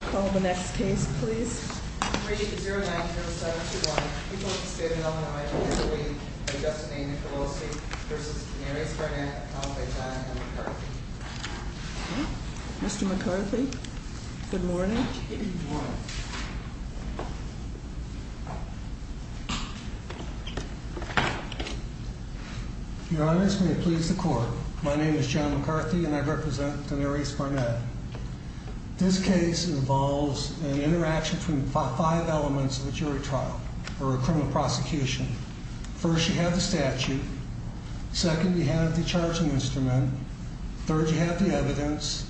Call the next case, please. Mr. McCarthy. Good morning. Your Honors, may it please the court. My name is John McCarthy and I represent Daenerys Barnett. This case involves an interaction between five elements of a jury trial or a criminal prosecution. First, you have the statute. Second, you have the charging instrument. Third, you have the evidence.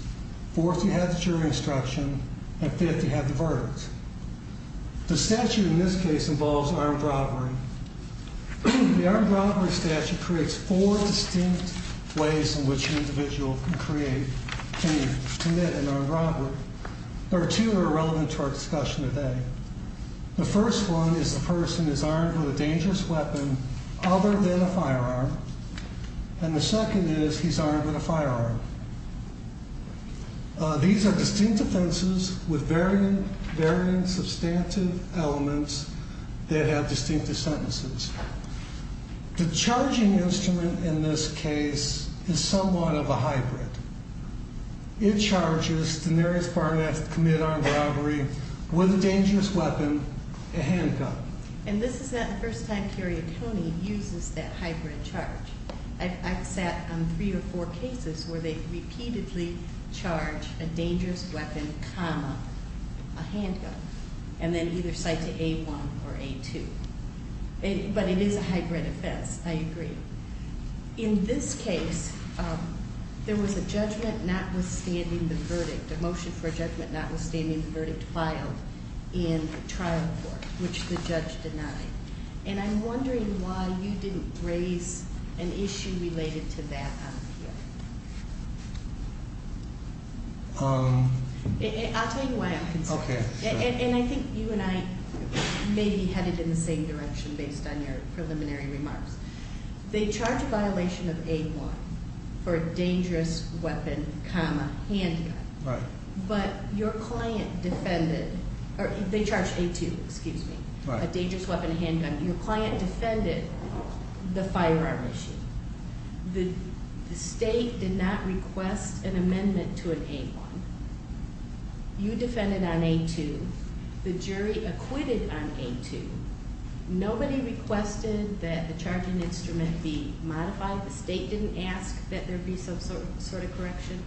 Fourth, you have the jury instruction. And fifth, you have the verdict. The statute in this case involves armed robbery. The armed robbery statute creates four distinct ways in which an individual can commit an armed robbery. There are two that are relevant to our discussion today. The first one is the person is armed with a dangerous weapon other than a firearm. And the second is he's armed with a firearm. These are distinct offenses with varying substantive elements that have distinctive sentences. The charging instrument in this case is somewhat of a hybrid. It charges Daenerys Barnett to commit armed robbery with a dangerous weapon, a handgun. And this is not the first time Kerry Atone uses that hybrid charge. I've sat on three or four cases where they've repeatedly charged a dangerous weapon, comma, a handgun. And then either cite to A1 or A2. But it is a hybrid offense, I agree. In this case, there was a judgment notwithstanding the verdict, a motion for a judgment notwithstanding the verdict filed in the trial court, which the judge denied. And I'm wondering why you didn't raise an issue related to that on appeal. I'll tell you why I'm concerned. Okay, sure. And I think you and I may be headed in the same direction based on your preliminary remarks. They charge a violation of A1 for a dangerous weapon, comma, handgun. Right. But your client defended, or they charge A2, excuse me. Right. A dangerous weapon, handgun. Your client defended the firearm issue. The state did not request an amendment to an A1. You defended on A2. The jury acquitted on A2. Nobody requested that the charging instrument be modified. The state didn't ask that there be some sort of correction.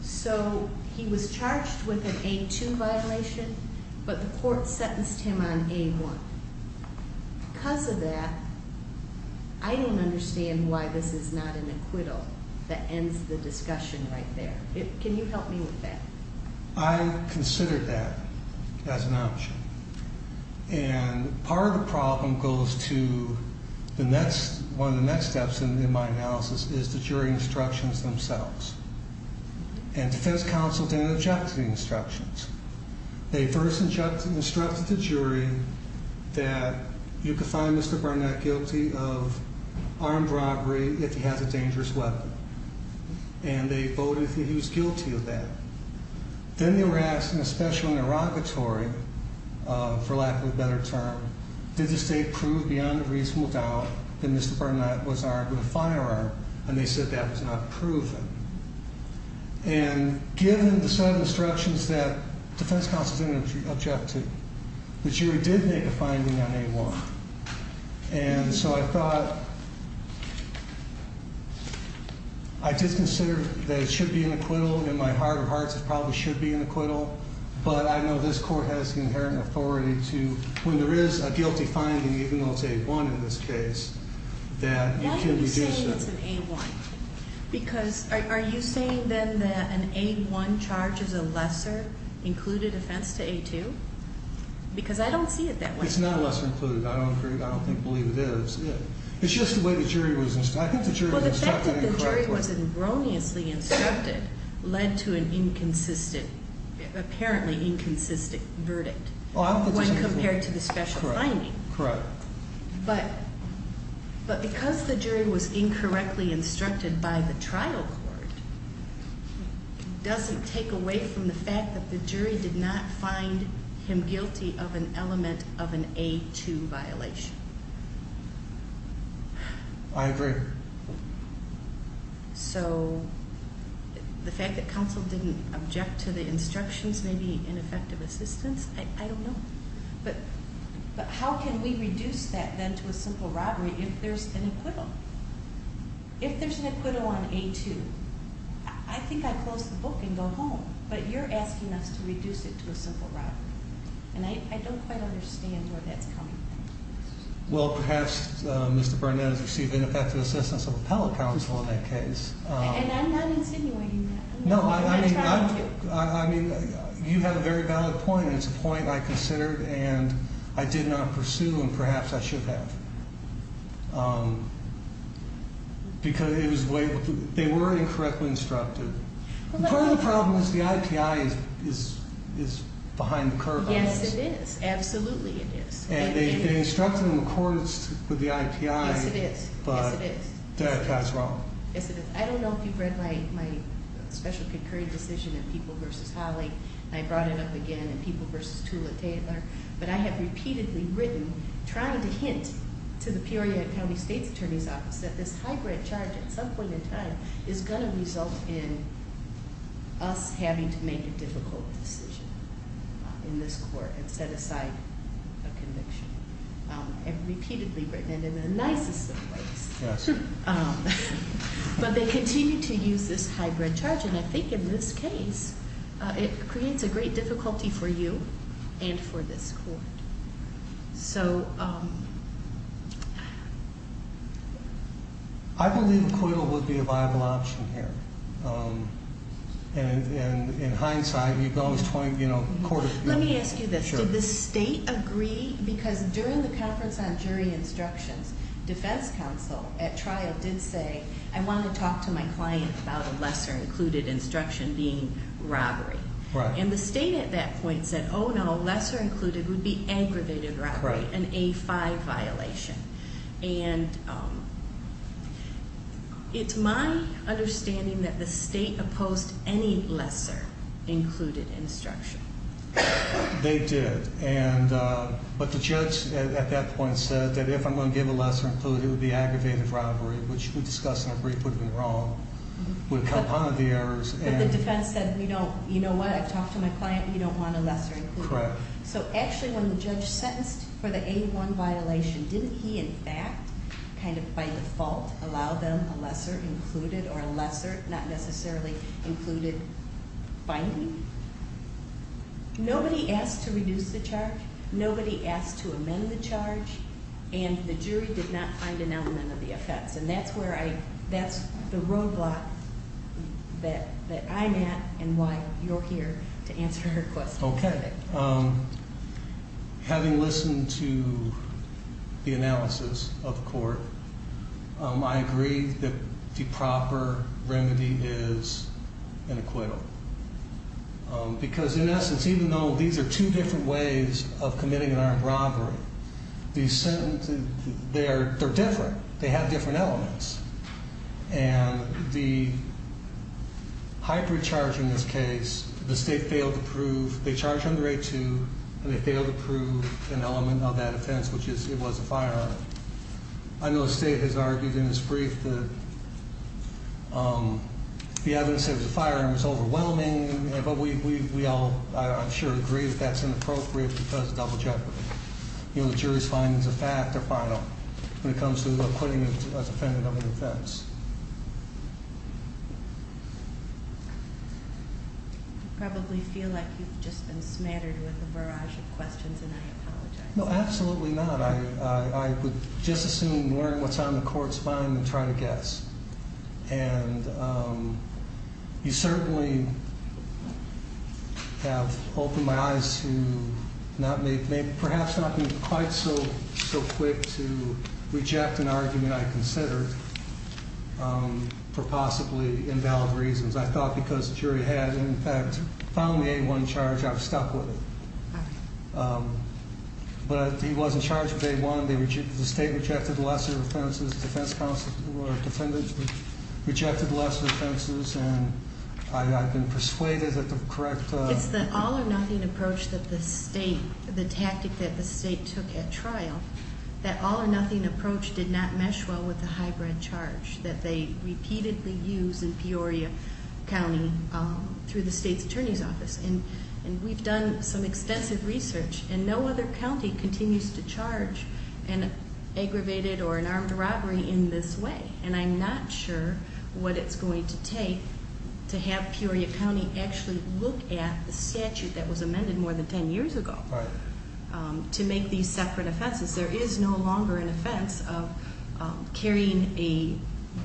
So he was charged with an A2 violation, but the court sentenced him on A1. Because of that, I don't understand why this is not an acquittal that ends the discussion right there. Can you help me with that? I considered that as an option. And part of the problem goes to one of the next steps in my analysis is the jury instructions themselves. They first instructed the jury that you could find Mr. Barnett guilty of armed robbery if he has a dangerous weapon. And they voted that he was guilty of that. Then they were asked in a special interrogatory, for lack of a better term, did the state prove beyond a reasonable doubt that Mr. Barnett was armed with a firearm? And they said that was not proven. And given the set of instructions that defense counsel didn't object to, the jury did make a finding on A1. And so I thought, I did consider that it should be an acquittal. In my heart of hearts, it probably should be an acquittal. But I know this court has the inherent authority to, when there is a guilty finding, even though it's A1 in this case, that it can reduce that. Why are you saying it's an A1? Because are you saying then that an A1 charge is a lesser included offense to A2? Because I don't see it that way. It's not lesser included. I don't agree. I don't believe it is. It's just the way the jury was instructed. I think the jury was instructed incorrectly. Well, the fact that the jury was erroneously instructed led to an inconsistent, apparently inconsistent verdict when compared to the special finding. Correct. But because the jury was incorrectly instructed by the trial court doesn't take away from the fact that the jury did not find him guilty of an element of an A2 violation. I agree. So the fact that counsel didn't object to the instructions may be ineffective assistance? I don't know. But how can we reduce that then to a simple robbery if there's an acquittal? If there's an acquittal on A2, I think I'd close the book and go home. But you're asking us to reduce it to a simple robbery. And I don't quite understand where that's coming from. Well, perhaps Mr. Burnett has received ineffective assistance of appellate counsel in that case. And I'm not insinuating that. No, I mean, you have a very valid point. And it's a point I considered and I did not pursue and perhaps I should have. Because they were incorrectly instructed. Part of the problem is the IPI is behind the curve on this. Yes, it is. Absolutely it is. And they instructed him in accordance with the IPI. Yes, it is. But that's wrong. Yes, it is. I don't know if you've read my special concurring decision in People v. Holley. I brought it up again in People v. Tula-Taylor. But I have repeatedly written trying to hint to the Peoria County State's Attorney's Office that this high grant charge at some point in time is going to result in us having to make a difficult decision in this court and set aside a conviction. I've repeatedly written it in the nicest of ways. Yes. But they continue to use this high grant charge. And I think in this case, it creates a great difficulty for you and for this court. So... I believe acquittal would be a viable option here. And in hindsight, you've gone 20, you know, court of appeals. Let me ask you this. Did the state agree? Because during the conference on jury instructions, defense counsel at trial did say, I want to talk to my client about a lesser included instruction being robbery. Right. And the state at that point said, oh, no, lesser included would be aggravated robbery, an A-5 violation. And it's my understanding that the state opposed any lesser included instruction. They did. But the judge at that point said that if I'm going to give a lesser included, it would be aggravated robbery, which we discussed in a brief would have been wrong, would have compounded the errors. But the defense said, you know what? I've talked to my client. We don't want a lesser included. Correct. So actually when the judge sentenced for the A-1 violation, didn't he in fact kind of by default allow them a lesser included or a lesser not necessarily included binding? Nobody asked to reduce the charge. Nobody asked to amend the charge. And the jury did not find an element of the effects. And that's where I, that's the roadblock that I'm at and why you're here to answer her question. Okay. Having listened to the analysis of the court, I agree that the proper remedy is an acquittal. Because in essence, even though these are two different ways of committing an armed robbery, these sentences, they're different. They have different elements. And the hybrid charge in this case, the state failed to prove, they charged under A-2, and they failed to prove an element of that offense, which is it was a firearm. I know the state has argued in this brief that the evidence said it was a firearm. It's overwhelming. But we all, I'm sure, agree that that's inappropriate because of double jeopardy. You know, the jury's findings are fact. They're final. When it comes to acquitting a defendant of an offense. You probably feel like you've just been smattered with a barrage of questions, and I apologize. No, absolutely not. I would just assume learning what's on the court's mind and trying to guess. And you certainly have opened my eyes to perhaps not being quite so quick to reject an argument I considered for possibly invalid reasons. I thought because the jury had, in fact, found the A-1 charge, I was stuck with it. But he was in charge of A-1. The state rejected the last of the offenses. Defense counsel or defendants rejected the last of the offenses. And I've been persuaded that the correct- It's the all-or-nothing approach that the state, the tactic that the state took at trial, that all-or-nothing approach did not mesh well with the hybrid charge that they repeatedly use in Peoria County through the state's attorney's office. And we've done some extensive research, and no other county continues to charge an aggravated or an armed robbery in this way. And I'm not sure what it's going to take to have Peoria County actually look at the statute that was amended more than ten years ago. Right. To make these separate offenses. There is no longer an offense of carrying a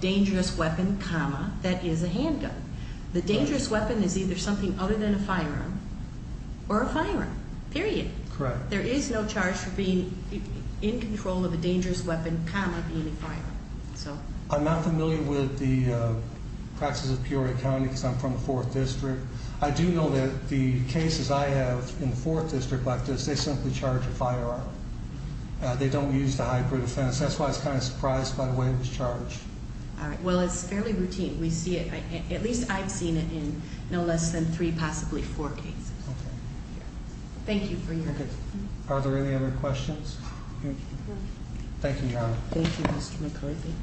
dangerous weapon, comma, that is a handgun. The dangerous weapon is either something other than a firearm or a firearm, period. Correct. There is no charge for being in control of a dangerous weapon, comma, being a firearm. I'm not familiar with the practices of Peoria County because I'm from the 4th District. I do know that the cases I have in the 4th District like this, they simply charge a firearm. They don't use the hybrid offense. That's why I was kind of surprised by the way it was charged. Well, it's fairly routine. We see it, at least I've seen it in no less than three, possibly four cases. Okay. Thank you for your time. Are there any other questions? Thank you, Your Honor. Thank you, Mr. McCarthy.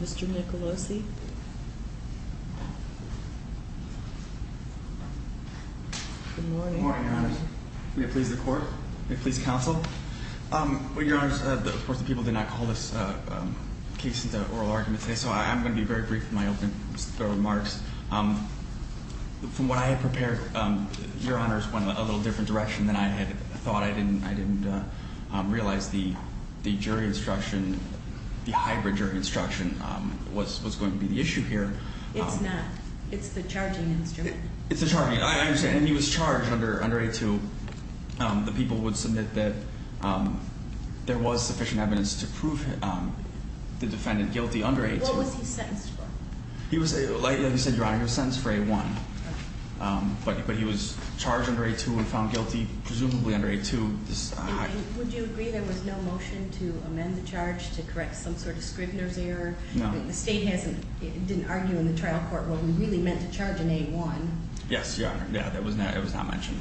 Mr. Nicolosi? Good morning. May it please the Court? May it please the Counsel? Well, Your Honors, of course, the people did not call this case into oral argument today, so I'm going to be very brief in my opening remarks. From what I had prepared, Your Honors, went a little different direction than I had thought. I didn't realize the jury instruction, the hybrid jury instruction was going to be the issue here. It's not. It's the charging instrument. It's the charging. I understand. And then he was charged under A-2. The people would submit that there was sufficient evidence to prove the defendant guilty under A-2. What was he sentenced for? Like you said, Your Honor, he was sentenced for A-1. But he was charged under A-2 and found guilty presumably under A-2. Would you agree there was no motion to amend the charge to correct some sort of Scrivner's error? No. The State didn't argue in the trial court what we really meant to charge in A-1. Yes, Your Honor. Yeah, it was not mentioned.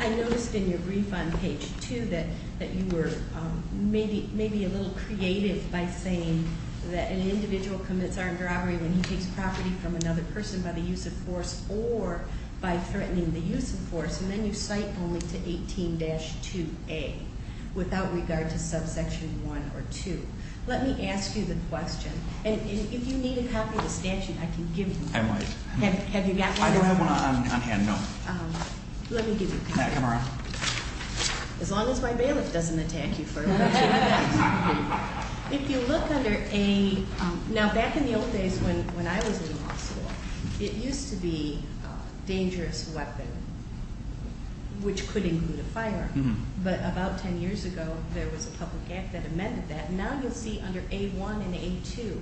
I noticed in your brief on page 2 that you were maybe a little creative by saying that an individual commits armed robbery when he takes property from another person by the use of force or by threatening the use of force, and then you cite only to 18-2A without regard to subsection 1 or 2. Let me ask you the question. And if you need a copy of the statute, I can give you one. I might. Have you got one? I don't have one on hand, no. Let me give you a copy. Come around. As long as my bailiff doesn't attack you for it. If you look under A, now back in the old days when I was in law school, it used to be dangerous weapon, which could include a firearm. But about 10 years ago, there was a public act that amended that. Now you'll see under A-1 and A-2.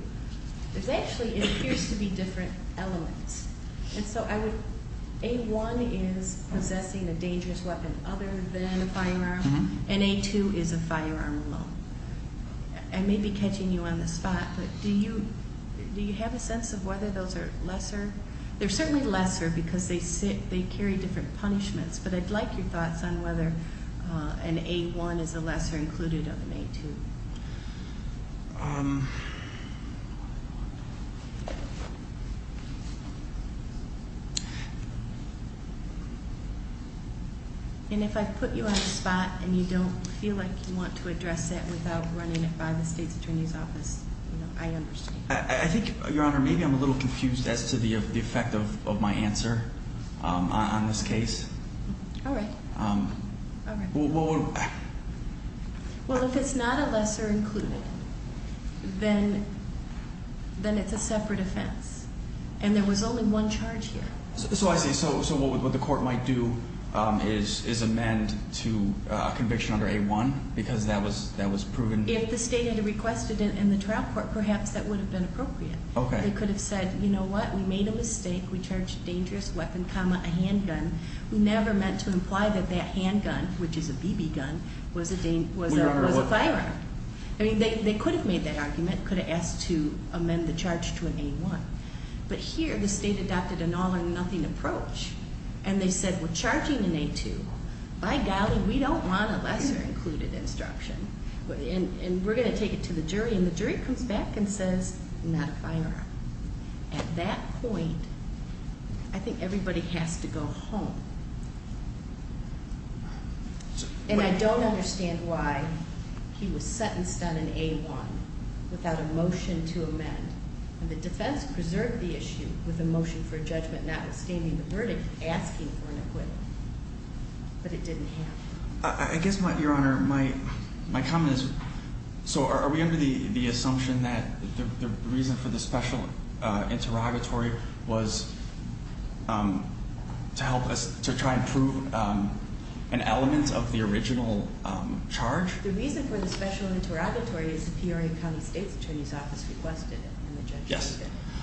There actually appears to be different elements. And so A-1 is possessing a dangerous weapon other than a firearm, and A-2 is a firearm alone. I may be catching you on the spot, but do you have a sense of whether those are lesser? They're certainly lesser because they carry different punishments, but I'd like your thoughts on whether an A-1 is a lesser included other than A-2. And if I put you on the spot and you don't feel like you want to address it without running it by the State's Attorney's Office, I understand. I think, Your Honor, maybe I'm a little confused as to the effect of my answer on this case. All right. Well, if it's not a lesser included, then it's a separate offense. And there was only one charge here. So I see. So what the court might do is amend to a conviction under A-1 because that was proven? If the state had requested it in the trial court, perhaps that would have been appropriate. They could have said, you know what, we made a mistake. We charged a dangerous weapon, comma, a handgun. We never meant to imply that that handgun, which is a BB gun, was a firearm. I mean, they could have made that argument, could have asked to amend the charge to an A-1. But here, the state adopted an all or nothing approach. And they said, we're charging an A-2. By golly, we don't want a lesser included instruction. And we're going to take it to the jury. And the jury comes back and says, not a firearm. At that point, I think everybody has to go home. And I don't understand why he was sentenced on an A-1 without a motion to amend. And the defense preserved the issue with a motion for judgment not abstaining the verdict, asking for an acquittal. But it didn't happen. I guess, Your Honor, my comment is, so are we under the assumption that the reason for the special interrogatory was to help us to try and prove an element of the original charge? The reason for the special interrogatory is the Peoria County State's Attorney's Office requested it. Yes.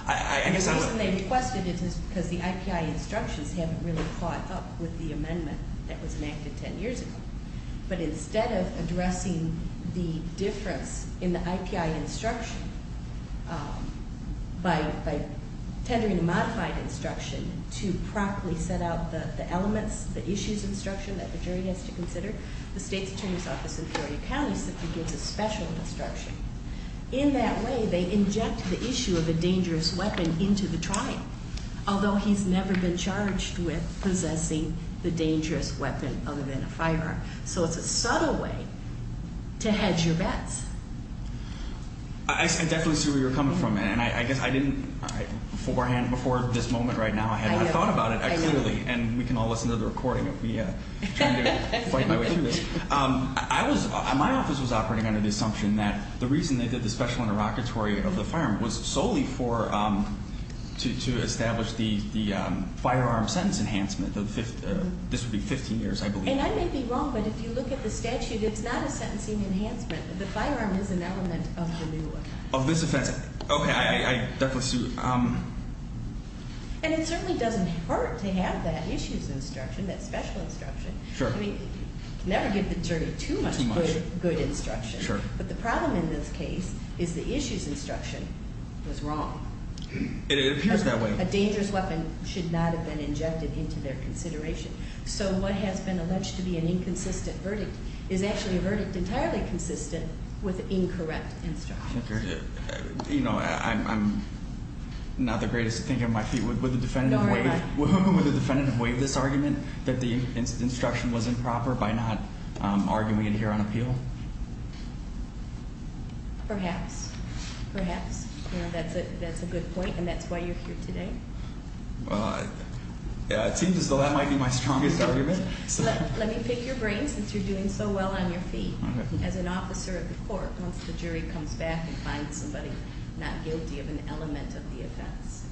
And the reason they requested it is because the IPI instructions haven't really caught up with the amendment that was enacted ten years ago. But instead of addressing the difference in the IPI instruction, by tendering a modified instruction to properly set out the elements, the issues instruction that the jury has to consider, the State's Attorney's Office in Peoria County simply gives a special instruction. In that way, they inject the issue of a dangerous weapon into the trial, although he's never been charged with possessing the dangerous weapon other than a firearm. So it's a subtle way to hedge your bets. I definitely see where you're coming from. And I guess I didn't beforehand, before this moment right now, I hadn't thought about it clearly. And we can all listen to the recording of me trying to fight my way through it. My office was operating under the assumption that the reason they did the special interrogatory of the firearm was solely to establish the firearm sentence enhancement. This would be 15 years, I believe. And I may be wrong, but if you look at the statute, it's not a sentencing enhancement. The firearm is an element of the new offense. Of this offense. Okay. I definitely see. And it certainly doesn't hurt to have that issues instruction, that special instruction. Sure. Never give the jury too much good instruction. Sure. But the problem in this case is the issues instruction was wrong. It appears that way. A dangerous weapon should not have been injected into their consideration. So what has been alleged to be an inconsistent verdict is actually a verdict entirely consistent with incorrect instruction. Okay. You know, I'm not the greatest thinker on my feet. Would the defendant waive this argument that the instruction was improper by not arguing it here on appeal? Perhaps. Perhaps. You know, that's a good point. And that's why you're here today. Well, it seems as though that might be my strongest argument. Let me pick your brain since you're doing so well on your feet. As an officer of the court, once the jury comes back and finds somebody not guilty of an element of the offense,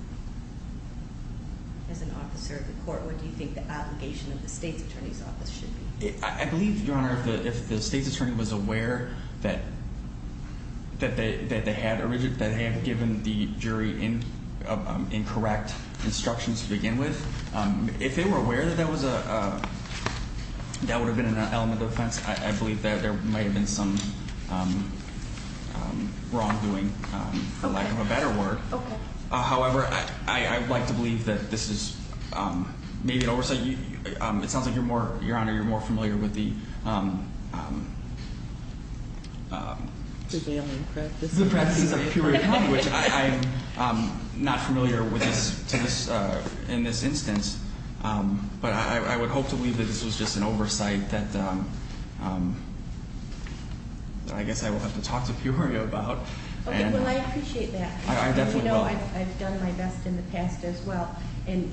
as an officer of the court, what do you think the obligation of the state's attorney's office should be? I believe, Your Honor, if the state's attorney was aware that they had given the jury incorrect instructions to begin with, if they were aware that that would have been an element of the offense, I believe that there might have been some wrongdoing, for lack of a better word. Okay. However, I would like to believe that this is maybe an oversight. It sounds like, Your Honor, you're more familiar with the- in this instance. But I would hope to believe that this was just an oversight that I guess I will have to talk to Peoria about. Okay. Well, I appreciate that. I definitely will. As you know, I've done my best in the past as well. And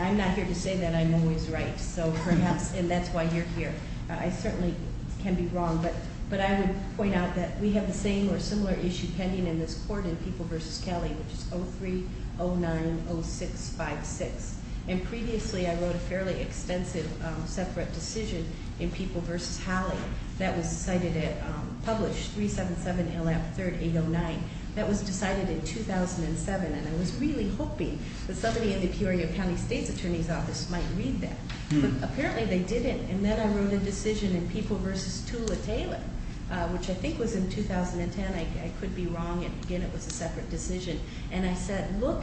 I'm not here to say that I'm always right. So perhaps, and that's why you're here. I certainly can be wrong. But I would point out that we have the same or similar issue pending in this court in People v. Kelly, which is 03-09-0656. And previously, I wrote a fairly extensive separate decision in People v. Holly that was cited at published 377LF3809. That was decided in 2007, and I was really hoping that somebody in the Peoria County State's Attorney's Office might read that. But apparently, they didn't. And then I wrote a decision in People v. Tula Taylor, which I think was in 2010. I could be wrong. Again, it was a separate decision. And I said, look,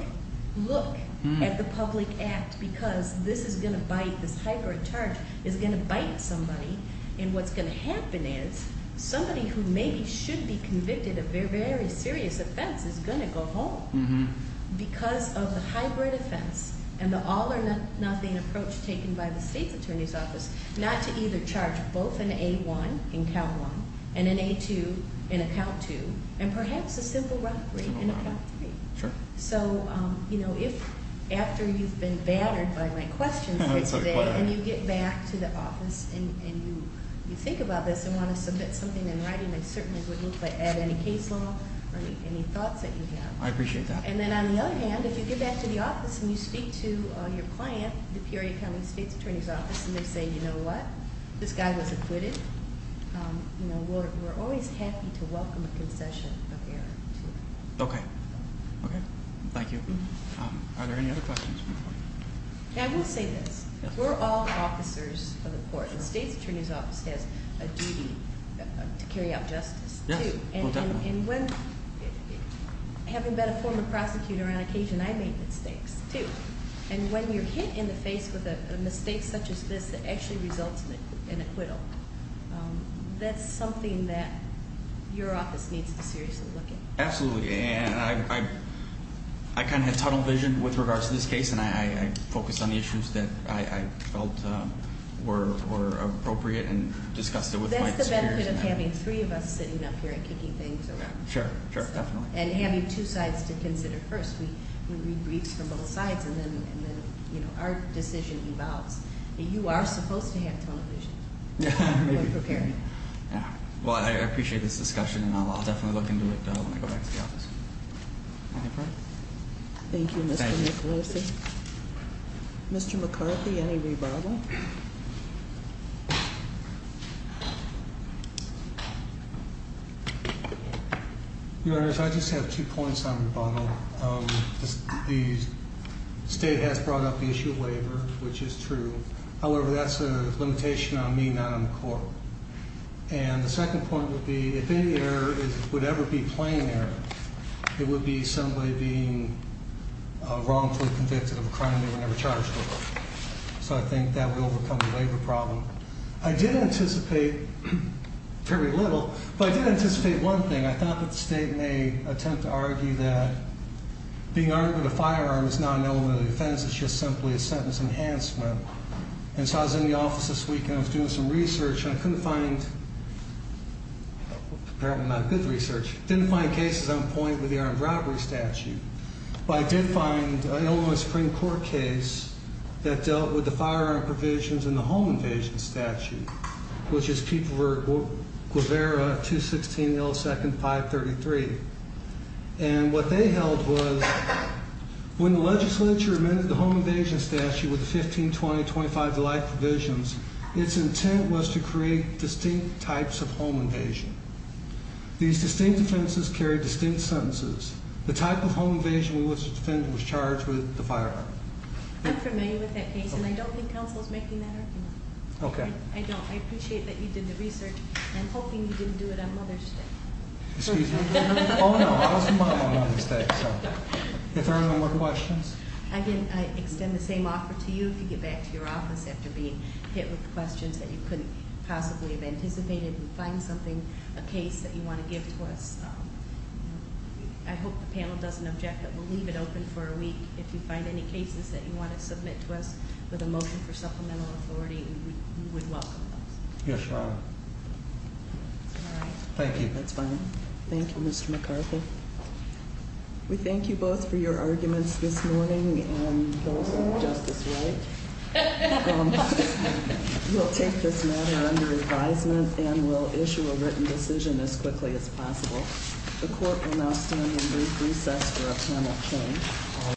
look at the public act because this is going to bite, this hybrid charge is going to bite somebody. And what's going to happen is somebody who maybe should be convicted of a very serious offense is going to go home because of the hybrid offense. And the all or nothing approach taken by the State's Attorney's Office, not to either charge both an A-1 in count one and an A-2 in account two. And perhaps a simple robbery in account three. So if after you've been battered by my questions today and you get back to the office and you think about this and want to submit something in writing, I certainly would look at any case law or any thoughts that you have. I appreciate that. And then on the other hand, if you get back to the office and you speak to your client, the Peoria County State's Attorney's Office, and they say, you know what, this guy was acquitted, we're always happy to welcome a concession of error, too. Okay. Okay. Thank you. Are there any other questions? I will say this. We're all officers of the court. The State's Attorney's Office has a duty to carry out justice, too. Well, definitely. And when, having been a former prosecutor on occasion, I made mistakes, too. And when you're hit in the face with a mistake such as this that actually results in acquittal, that's something that your office needs to seriously look at. Absolutely. And I kind of had tunnel vision with regards to this case, and I focused on the issues that I felt were appropriate and discussed it with my- That's the benefit of having three of us sitting up here and kicking things around. Sure, sure, definitely. And having two sides to consider first. We read briefs from both sides, and then our decision evolves. You are supposed to have tunnel vision. I'm prepared. Yeah. Well, I appreciate this discussion, and I'll definitely look into it when I go back to the office. Anything further? Thank you, Mr. Nicklausen. Thank you. Mr. McCarthy, any rebuttal? Your Honors, I just have two points on rebuttal. The state has brought up the issue of labor, which is true. However, that's a limitation on me, not on the court. And the second point would be if any error would ever be plain error, it would be somebody being wrongfully convicted of a crime they were never charged with. So I think that will overcome the labor problem. I did anticipate very little, but I did anticipate one thing. I thought that the state may attempt to argue that being armed with a firearm is not an element of the offense. It's just simply a sentence enhancement. And so I was in the office this weekend. I was doing some research, and I couldn't find—apparently not good research—didn't find cases on point with the armed robbery statute. But I did find an Illinois Supreme Court case that dealt with the firearm provisions in the home invasion statute, which is Kupferer 216 L. 2nd 533. And what they held was when the legislature amended the home invasion statute with the 1520-25 Delight provisions, its intent was to create distinct types of home invasion. These distinct offenses carry distinct sentences. The type of home invasion we were to defend was charged with the firearm. I'm familiar with that case, and I don't think counsel is making that argument. Okay. I don't. I appreciate that you did the research. I'm hoping you didn't do it on Mother's Day. Excuse me? Oh, no. I was involved on Mother's Day, so. If there are no more questions. I extend the same offer to you if you get back to your office after being hit with questions that you couldn't possibly have anticipated. Find something, a case that you want to give to us. I hope the panel doesn't object, but we'll leave it open for a week. If you find any cases that you want to submit to us with a motion for supplemental authority, we would welcome those. Yes, ma'am. All right. Thank you. That's fine. Thank you, Mr. McCarthy. We thank you both for your arguments this morning, and those of Justice Wright. We'll take this matter under advisement and we'll issue a written decision as quickly as possible. The court will now stand in brief recess for a panel hearing.